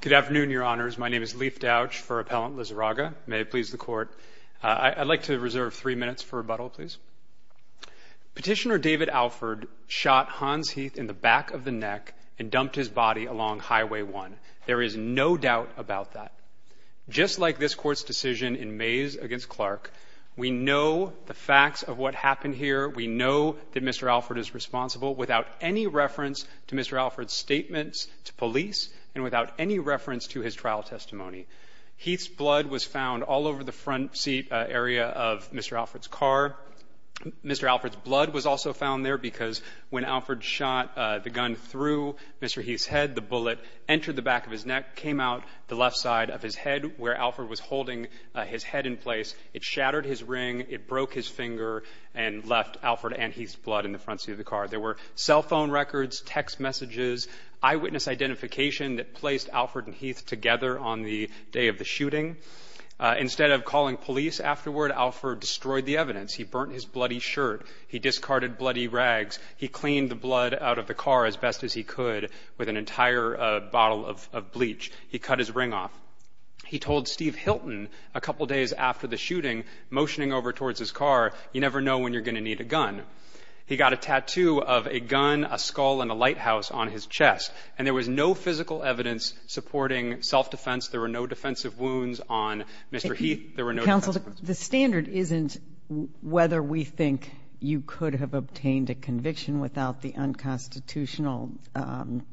Petitioner David Alford shot Hans Heath in the back of the neck and dumped his body along Highway 1. There is no doubt about that. Just like this Court's decision in Mays v. Clark, we know the facts of what happened here. We know that Mr. Alford is responsible without any reference to Mr. Alford's statements to police and without any reference to his trial testimony. Heath's blood was found all over the front seat area of Mr. Alford's car. Mr. Alford's blood was also found there because when Alford shot the gun through Mr. Heath's head, the bullet entered the back of his neck, came out the left side of his head where Alford was holding his head in place. It shattered his ring, it broke his finger and left Alford and Heath's blood in the front seat of the car. There were cell phone records, text messages, eyewitness identification that placed Alford and Heath together on the day of the shooting. Instead of calling police afterward, Alford destroyed the evidence. He burnt his bloody shirt. He discarded bloody rags. He cleaned the blood out of the car as best as he could with an entire bottle of bleach. He cut his ring off. He told Steve Hilton a couple days after the shooting, motioning over towards his car, you never know when you're going to need a gun. He got a tattoo of a gun, a skull and a lighthouse on his chest. And there was no physical evidence supporting self-defense. There were no defensive wounds on Mr. Heath. Counsel, the standard isn't whether we think you could have obtained a conviction without the unconstitutional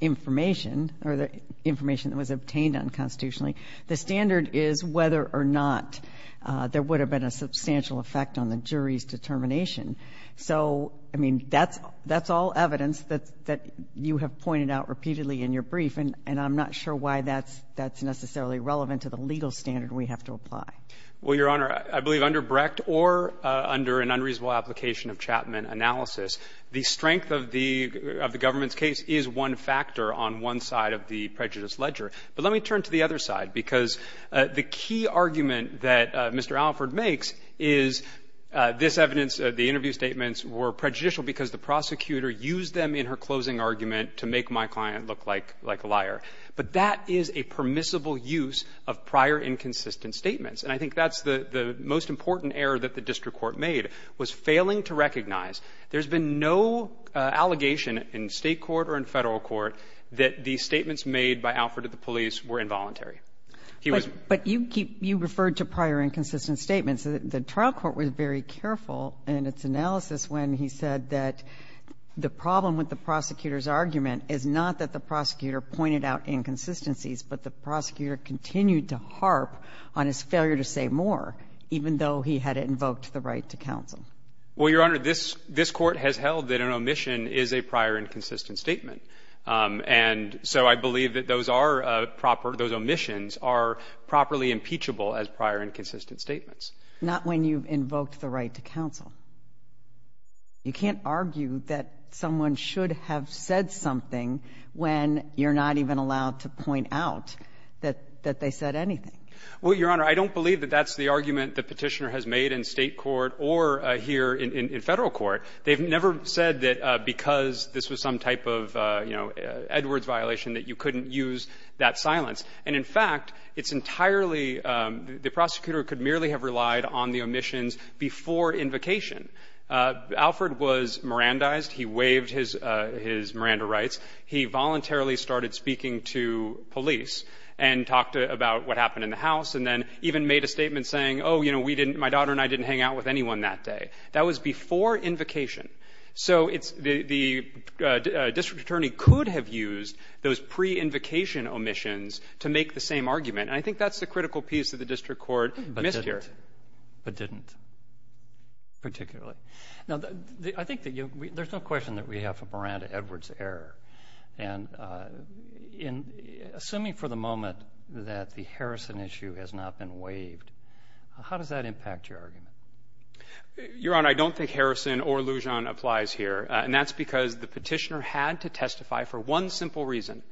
information, or the information that was obtained unconstitutionally. The standard is whether or not there would have been a substantial effect on the jury's determination. So, I mean, that's all evidence that you have pointed out repeatedly in your brief, and I'm not sure why that's necessarily relevant to the legal standard we have to apply. Well, Your Honor, I believe under Brecht or under an unreasonable application of Chapman analysis, the strength of the government's case is one factor on one side of the prejudice ledger. But let me turn to the other side, because the key argument that Mr. Alford makes is this evidence, the interview statements were prejudicial because the prosecutor used them in her closing argument to make my client look like a liar. But that is a permissible use of prior inconsistent statements. And I think that's the most important error that the district court made, was failing to recognize. There's been no allegation in State court or in Federal court that the statements made by Alford to the police were involuntary. He was ---- But you refer to prior inconsistent statements. The trial court was very careful in its analysis when he said that the problem with the prosecutor's argument is not that the prosecutor pointed out inconsistencies, but the prosecutor continued to harp on his failure to say more, even though he had invoked the right to counsel. Well, Your Honor, this Court has held that an omission is a prior inconsistent statement. And so I believe that those are proper, those omissions are properly impeachable as prior inconsistent statements. Not when you've invoked the right to counsel. You can't argue that someone should have said something when you're not even allowed to point out that they said anything. Well, Your Honor, I don't believe that that's the argument the Petitioner has made in State court or here in Federal court. They've never said that because this was some type of, you know, Edwards violation that you couldn't use that silence. And, in fact, it's entirely the prosecutor could merely have relied on the omissions before invocation. Alford was Mirandized. He waived his Miranda rights. He voluntarily started speaking to police and talked about what happened in the house and then even made a statement saying, oh, you know, we didn't, my daughter and I didn't hang out with anyone that day. That was before invocation. So it's the district attorney could have used those pre-invocation omissions to make the same argument. And I think that's the critical piece that the district court missed here. But didn't, particularly. Now, I think that there's no question that we have a Miranda-Edwards error. And in assuming for the moment that the Harrison issue has not been waived, how does that impact your argument? Your Honor, I don't think Harrison or Lujan applies here, and that's because the Petitioner had to testify for one simple reason,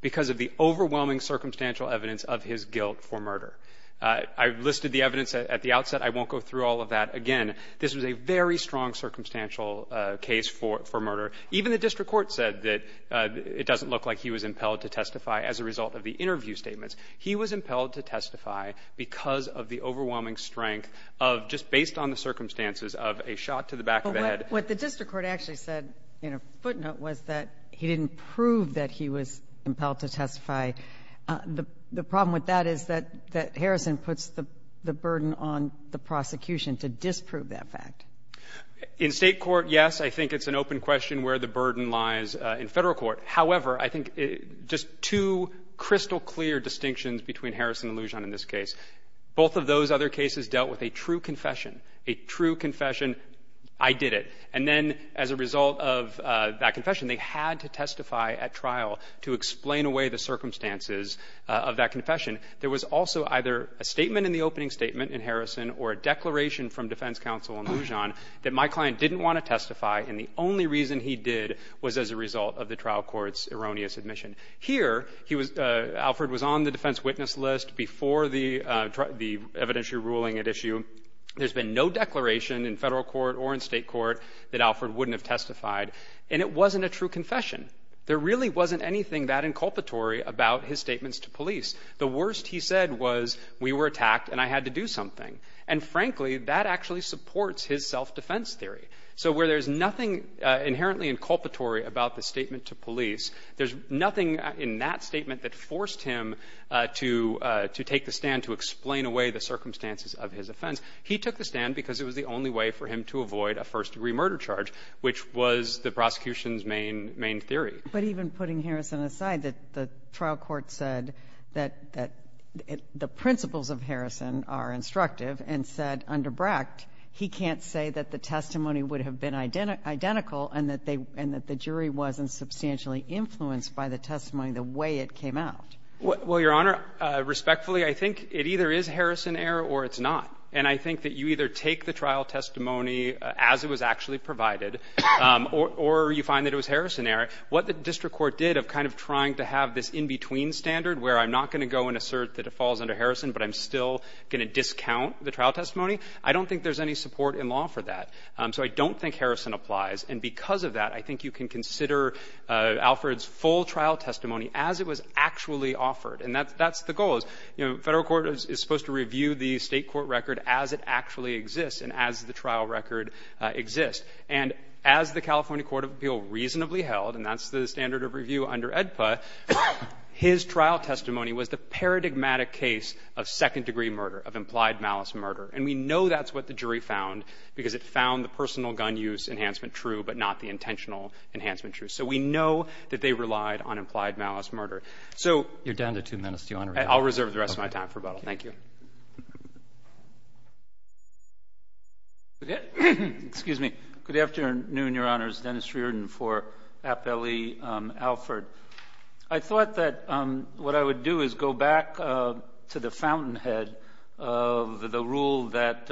because of the overwhelming circumstantial evidence of his guilt for murder. I've listed the evidence at the outset. I won't go through all of that again. This was a very strong circumstantial case for murder. Even the district court said that it doesn't look like he was impelled to testify as a result of the interview statements. He was impelled to testify because of the overwhelming strength of just based on the circumstances of a shot to the back of the head. But what the district court actually said in a footnote was that he didn't prove that he was impelled to testify. The problem with that is that Harrison puts the burden on the prosecution to disprove that fact. In State court, yes. I think it's an open question where the burden lies in Federal court. However, I think just two crystal clear distinctions between Harrison and Lujan in this case, both of those other cases dealt with a true confession. A true confession, I did it. And then as a result of that confession, they had to testify at trial to explain away the circumstances of that confession. There was also either a statement in the opening statement in Harrison or a declaration from defense counsel in Lujan that my client didn't want to testify and the only reason he did was as a result of the trial court's erroneous admission. Here, Alfred was on the defense witness list before the evidentiary ruling at issue. There's been no declaration in Federal court or in State court that Alfred wouldn't have testified. And it wasn't a true confession. There really wasn't anything that inculpatory about his statements to police. The worst he said was we were attacked and I had to do something. And frankly, that actually supports his self-defense theory. So where there's nothing inherently inculpatory about the statement to police, there's nothing in that statement that forced him to take the stand to explain away the circumstances of his offense. He took the stand because it was the only way for him to avoid a first-degree murder charge, which was the prosecution's main theory. But even putting Harrison aside, the trial court said that the principles of Harrison are instructive, and said under Brecht, he can't say that the testimony would have been identical and that the jury wasn't substantially influenced by the testimony the way it came out. Well, Your Honor, respectfully, I think it either is Harrison error or it's not. And I think that you either take the trial testimony as it was actually provided or you find that it was Harrison error. What the district court did of kind of trying to have this in-between standard where I'm not going to go and assert that it falls under Harrison, but I'm still going to discount the trial testimony. I don't think there's any support in law for that. So I don't think Harrison applies. And because of that, I think you can consider Alford's full trial testimony as it was actually offered. And that's the goal is, you know, Federal Court is supposed to review the State Court record as it actually exists and as the trial record exists. And as the California Court of Appeal reasonably held, and that's the standard of review under AEDPA, his trial testimony was the paradigmatic case of second-degree murder, of implied malice murder. And we know that's what the jury found because it found the personal gun use enhancement true, but not the intentional enhancement true. So we know that they relied on implied malice murder. So you're down to two minutes, Your Honor. I'll reserve the rest of my time for rebuttal. Thank you. Excuse me. Good afternoon, Your Honors. Dennis Reardon for Appellee Alford. I thought that what I would do is go back to the fountainhead of the rule that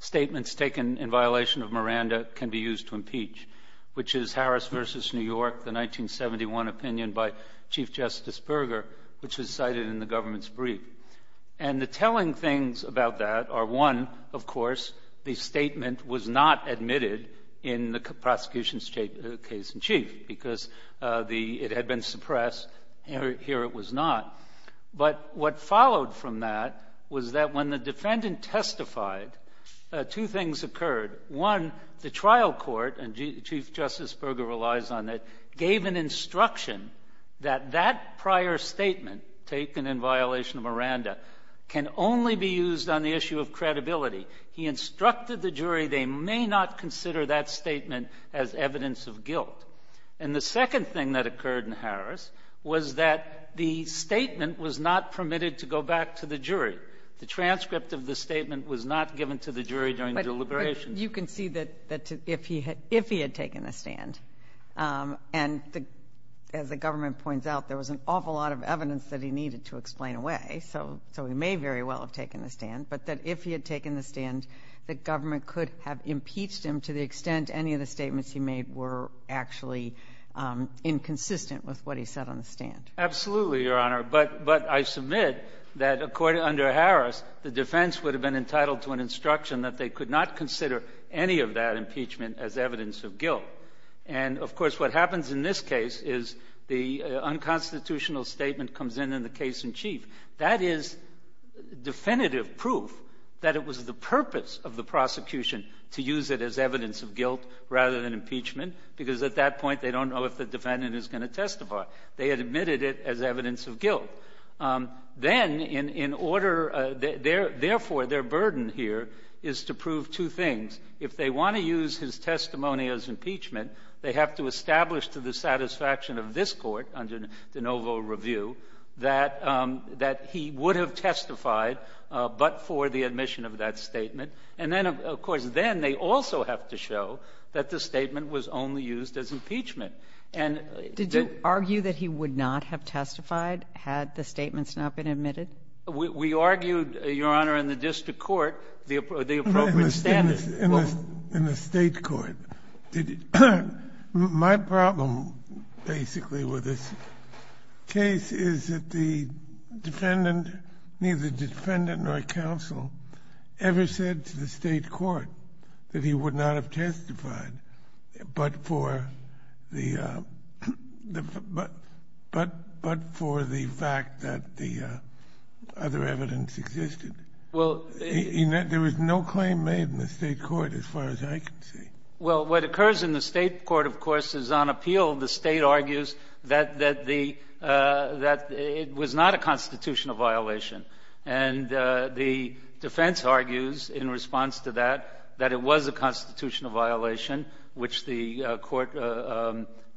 statements taken in violation of Miranda can be used to impeach, which is Harris v. New York, the 1971 opinion by Chief Justice Berger, which was cited in the government's brief. And the telling things about that are, one, of course, the statement was not admitted in the prosecution's case in chief because it had been suppressed. Here it was not. But what followed from that was that when the defendant testified, two things occurred. One, the trial court, and Chief Justice Berger relies on it, gave an instruction that that prior statement taken in violation of Miranda can only be used on the issue of credibility. He instructed the jury they may not consider that statement as evidence of guilt. And the second thing that occurred in Harris was that the statement was not permitted to go back to the jury. The transcript of the statement was not given to the jury during deliberations. You can see that if he had taken the stand, and as the government points out, there was an awful lot of evidence that he needed to explain away, so he may very well have taken the stand, but that if he had taken the stand, the government could have impeached him to the extent any of the statements he made were actually inconsistent with what he said on the stand. Absolutely, Your Honor. But I submit that under Harris, the defense would have been entitled to an instruction that they could not consider any of that impeachment as evidence of guilt. And, of course, what happens in this case is the unconstitutional statement comes in in the case in chief. That is definitive proof that it was the purpose of the prosecution to use it as evidence of guilt rather than impeachment, because at that point they don't know if the defendant is going to testify. They had admitted it as evidence of guilt. Then, in order — therefore, their burden here is to prove two things. If they want to use his testimony as impeachment, they have to establish to the satisfaction of this Court under de novo review that he would have testified but for the admission of that statement. And then, of course, then they also have to show that the statement was only used as impeachment. And the — Did you argue that he would not have testified had the statements not been admitted? We argued, Your Honor, in the district court, the appropriate standard. In the state court. My problem, basically, with this case is that the defendant, neither defendant nor counsel, ever said to the state court that he would not have testified but for the fact that the other evidence existed. There was no claim made in the state court, as far as I can see. Well, what occurs in the state court, of course, is on appeal. The State argues that the — that it was not a constitutional violation. And the defense argues, in response to that, that it was a constitutional violation, which the Court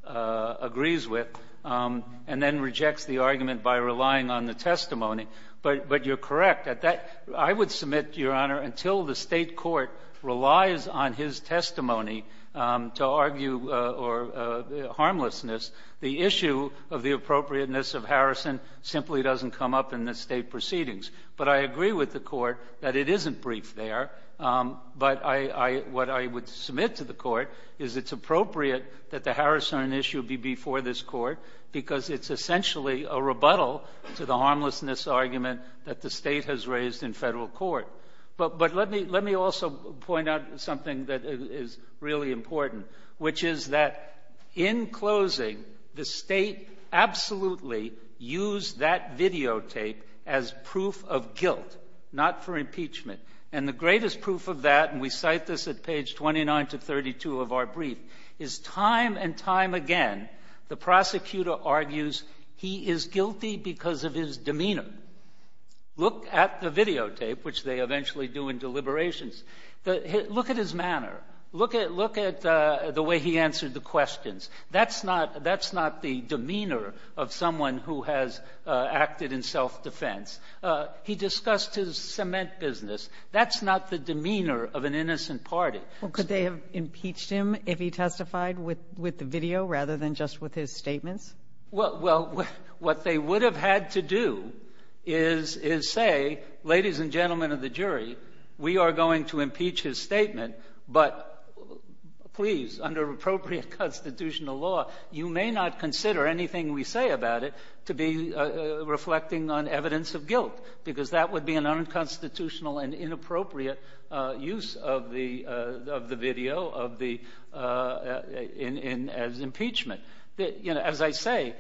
agrees with, and then rejects the argument by relying on the testimony. But you're correct. I would submit, Your Honor, until the State court relies on his testimony to argue harmlessness, the issue of the appropriateness of Harrison simply doesn't come up in the State proceedings. But I agree with the Court that it isn't brief there. But I — what I would submit to the Court is it's appropriate that the Harrison issue be before this Court because it's essentially a rebuttal to the harmlessness argument that the State has raised in Federal court. But let me also point out something that is really important, which is that, in closing, the State absolutely used that videotape as proof of guilt, not for impeachment. And the greatest proof of that, and we cite this at page 29 to 32 of our brief, is time and time again the prosecutor argues he is guilty because of his demeanor. Look at the videotape, which they eventually do in deliberations. Look at his manner. Look at — look at the way he answered the questions. That's not — that's not the demeanor of someone who has acted in self-defense. He discussed his cement business. That's not the demeanor of an innocent party. Well, could they have impeached him if he testified with — with the video rather than just with his statements? Well, what they would have had to do is — is say, ladies and gentlemen of the jury, we are going to impeach his statement, but please, under appropriate constitutional law, you may not consider anything we say about it to be reflecting on evidence of guilt because that would be an unconstitutional and inappropriate use of the — of the video of the — as impeachment. You know, as I say,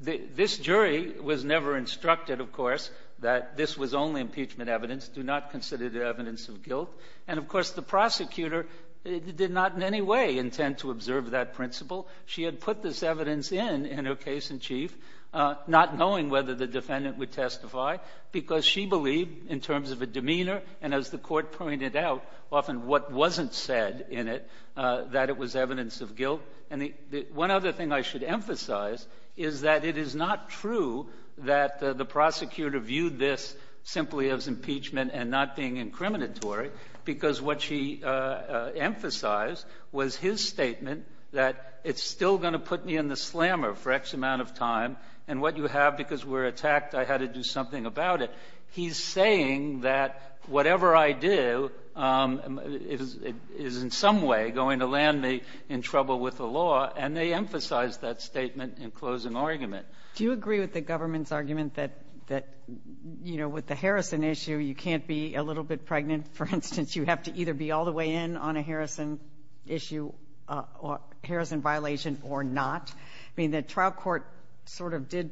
this jury was never instructed, of course, that this was only impeachment evidence. Do not consider it evidence of guilt. And, of course, the prosecutor did not in any way intend to observe that principle. She had put this evidence in, in her case in chief, not knowing whether the defendant would testify because she believed, in terms of a demeanor, and as the Court pointed out, often what wasn't said in it, that it was evidence of guilt. And the — one other thing I should emphasize is that it is not true that the prosecutor viewed this simply as impeachment and not being incriminatory because what she emphasized was his statement that it's still going to put me in the slammer for X amount of time and what you have because we're attacked, I had to do something about it. He's saying that whatever I do is in some way going to land me in trouble with the law, and they emphasized that statement in closing argument. Do you agree with the government's argument that — that, you know, with the Harrison issue, you can't be a little bit pregnant, for instance, you have to either be all the way in on a Harrison issue or — Harrison violation or not? I mean, the trial court sort of did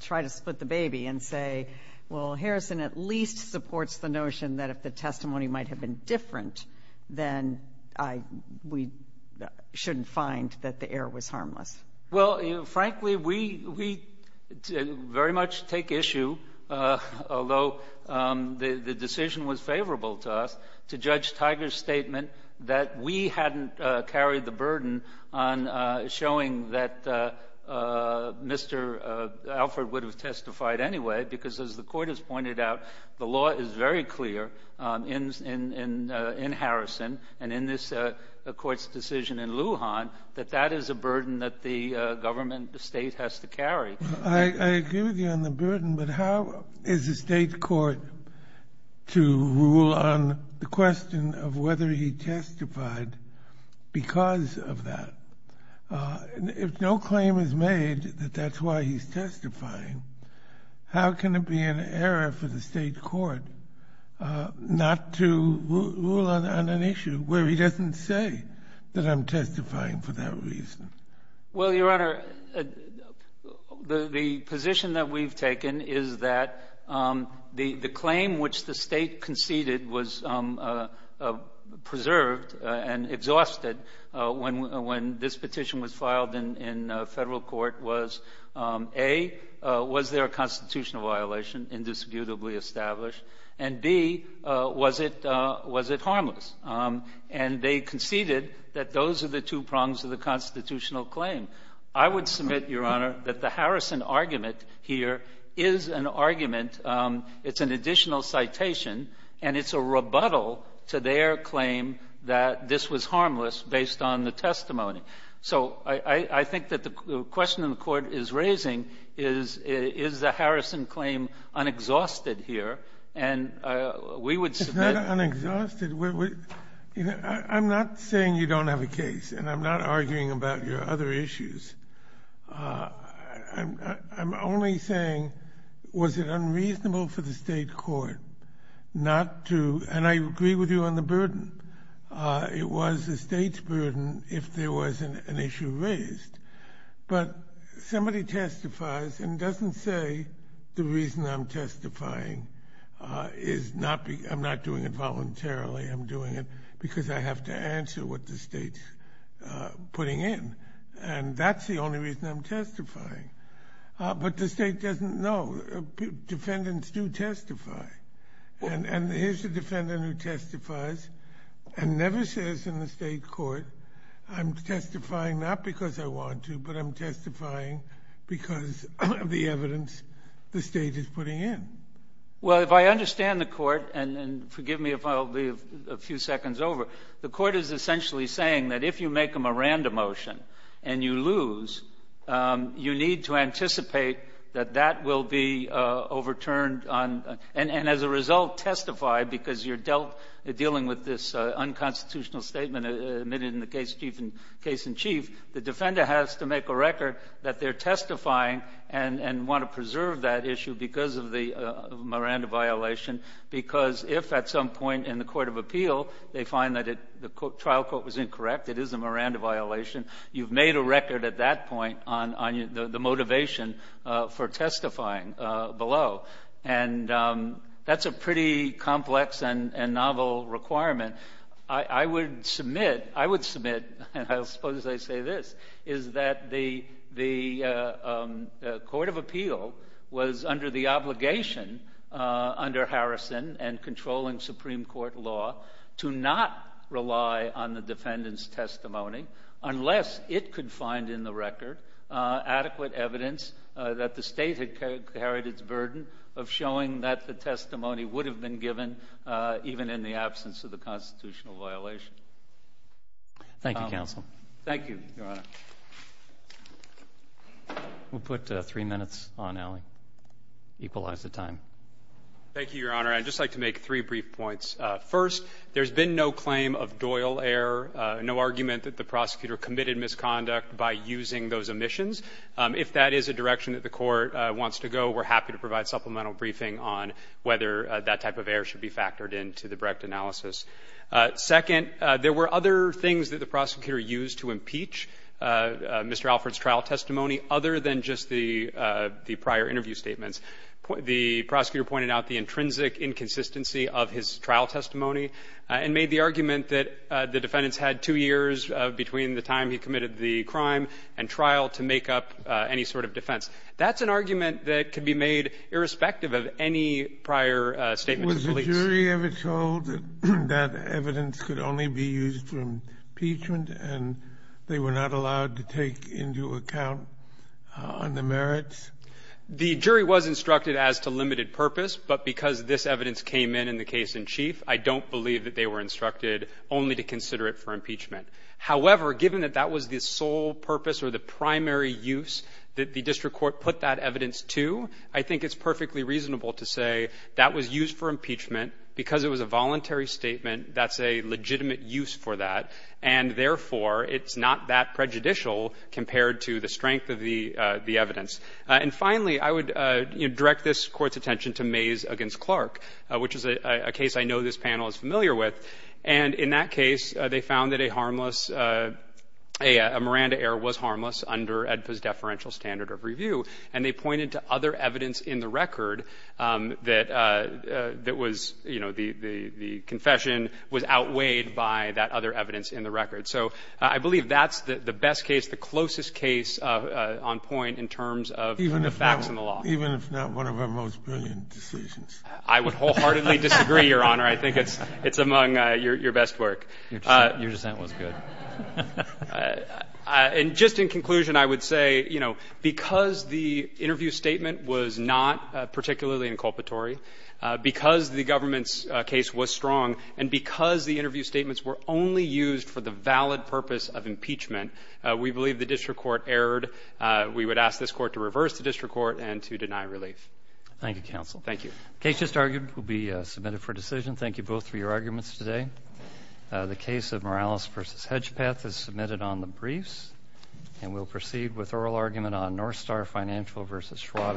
try to split the baby and say, well, Harrison at least supports the notion that if the testimony might have been different, then I — we shouldn't find that the error was harmless. Well, frankly, we — we very much take issue, although the — the decision was favorable to us, to Judge Tiger's statement that we hadn't carried the burden on showing that Mr. Alford would have testified anyway because, as the Court has pointed out, the law is very clear in — in — in Harrison and in this Court's decision in Lujan that that is a burden the government — the state has to carry. I agree with you on the burden, but how is the state court to rule on the question of whether he testified because of that? If no claim is made that that's why he's testifying, how can it be an error for the state court not to rule on an issue where he doesn't say that I'm testifying for that reason? Well, Your Honor, the — the position that we've taken is that the — the claim which the state conceded was preserved and exhausted when — when this petition was filed in Federal court was, A, was there a constitutional violation, indisputably established? And, B, was it — was it harmless? And they conceded that those are the two prongs of the constitutional claim. I would submit, Your Honor, that the Harrison argument here is an argument. It's an additional citation, and it's a rebuttal to their claim that this was harmless based on the testimony. So I — I think that the question the Court is raising is, is the Harrison claim unexhausted here? And we would submit — You know, I'm not saying you don't have a case, and I'm not arguing about your other issues. I'm only saying, was it unreasonable for the state court not to — and I agree with you on the burden. It was the state's burden if there was an issue raised. But somebody testifies and doesn't say the reason I'm testifying is not — I'm not doing it voluntarily. I'm doing it because I have to answer what the state's putting in. And that's the only reason I'm testifying. But the state doesn't know. Defendants do testify. And here's the defendant who testifies and never says in the state court, I'm testifying not because I want to, but I'm testifying because of the evidence the state is putting in. Well, if I understand the Court, and forgive me if I'll be a few seconds over, the Court is essentially saying that if you make them a random motion and you lose, you need to anticipate that that will be overturned on — and as a result, testify because you're dealt — dealing with this unconstitutional statement admitted in the case in chief, the defender has to make a record that they're testifying and want to preserve that issue because of the Miranda violation. Because if at some point in the court of appeal they find that the trial court was incorrect, it is a Miranda violation, you've made a record at that point on the motivation for testifying below. And that's a pretty complex and novel requirement. I would submit, and I suppose I say this, is that the court of appeal was under the obligation under Harrison and controlling Supreme Court law to not rely on the defendant's testimony unless it could find in the record adequate evidence that the state had carried its burden of showing that the testimony would have been given even in the absence of the constitutional violation. Thank you, Counsel. Thank you, Your Honor. We'll put three minutes on, Allie. Equalize the time. Thank you, Your Honor. I'd just like to make three brief points. First, there's been no claim of Doyle error, no argument that the prosecutor committed misconduct by using those omissions. If that is a direction that the court wants to go, we're happy to provide supplemental briefing on whether that type of error should be factored into the Brecht analysis. Second, there were other things that the prosecutor used to impeach Mr. Alford's trial testimony other than just the prior interview statements. The prosecutor pointed out the intrinsic inconsistency of his trial testimony and made the argument that the defendants had two years between the time he committed the crime and trial to make up any sort of defense. That's an argument that can be made irrespective of any prior statement of police. Was the jury ever told that evidence could only be used for impeachment and they were not allowed to take into account on the merits? The jury was instructed as to limited purpose, but because this evidence came in in the case in chief, I don't believe that they were instructed only to consider it for impeachment. However, given that that was the sole purpose or the primary use that the district court put that evidence to, I think it's perfectly reasonable to say that was used for impeachment because it was a voluntary statement that's a legitimate use for that, and therefore, it's not that prejudicial compared to the strength of the evidence. And finally, I would direct this Court's attention to Mays v. Clark, which is a case I know this panel is familiar with. And in that case, they found that a harmless, a Miranda error was harmless under ADPA's deferential standard of review, and they pointed to other evidence in the record that was, you know, the confession was outweighed by that other evidence in the record. So I believe that's the best case, the closest case on point in terms of the facts and the law. Even if not one of our most brilliant decisions. I would wholeheartedly disagree, Your Honor. I think it's among your best work. Your dissent was good. And just in conclusion, I would say, you know, because the interview statement was not particularly inculpatory, because the government's case was strong, and because the interview statements were only used for the valid purpose of impeachment, we believe the district court erred. We would ask this Court to reverse the district court and to deny relief. Thank you, counsel. Thank you. The case just argued will be submitted for decision. Thank you both for your arguments today. The case of Morales v. Hedgepeth is submitted on the briefs, and we'll proceed with oral argument on Northstar Financial v. Schwab Investment.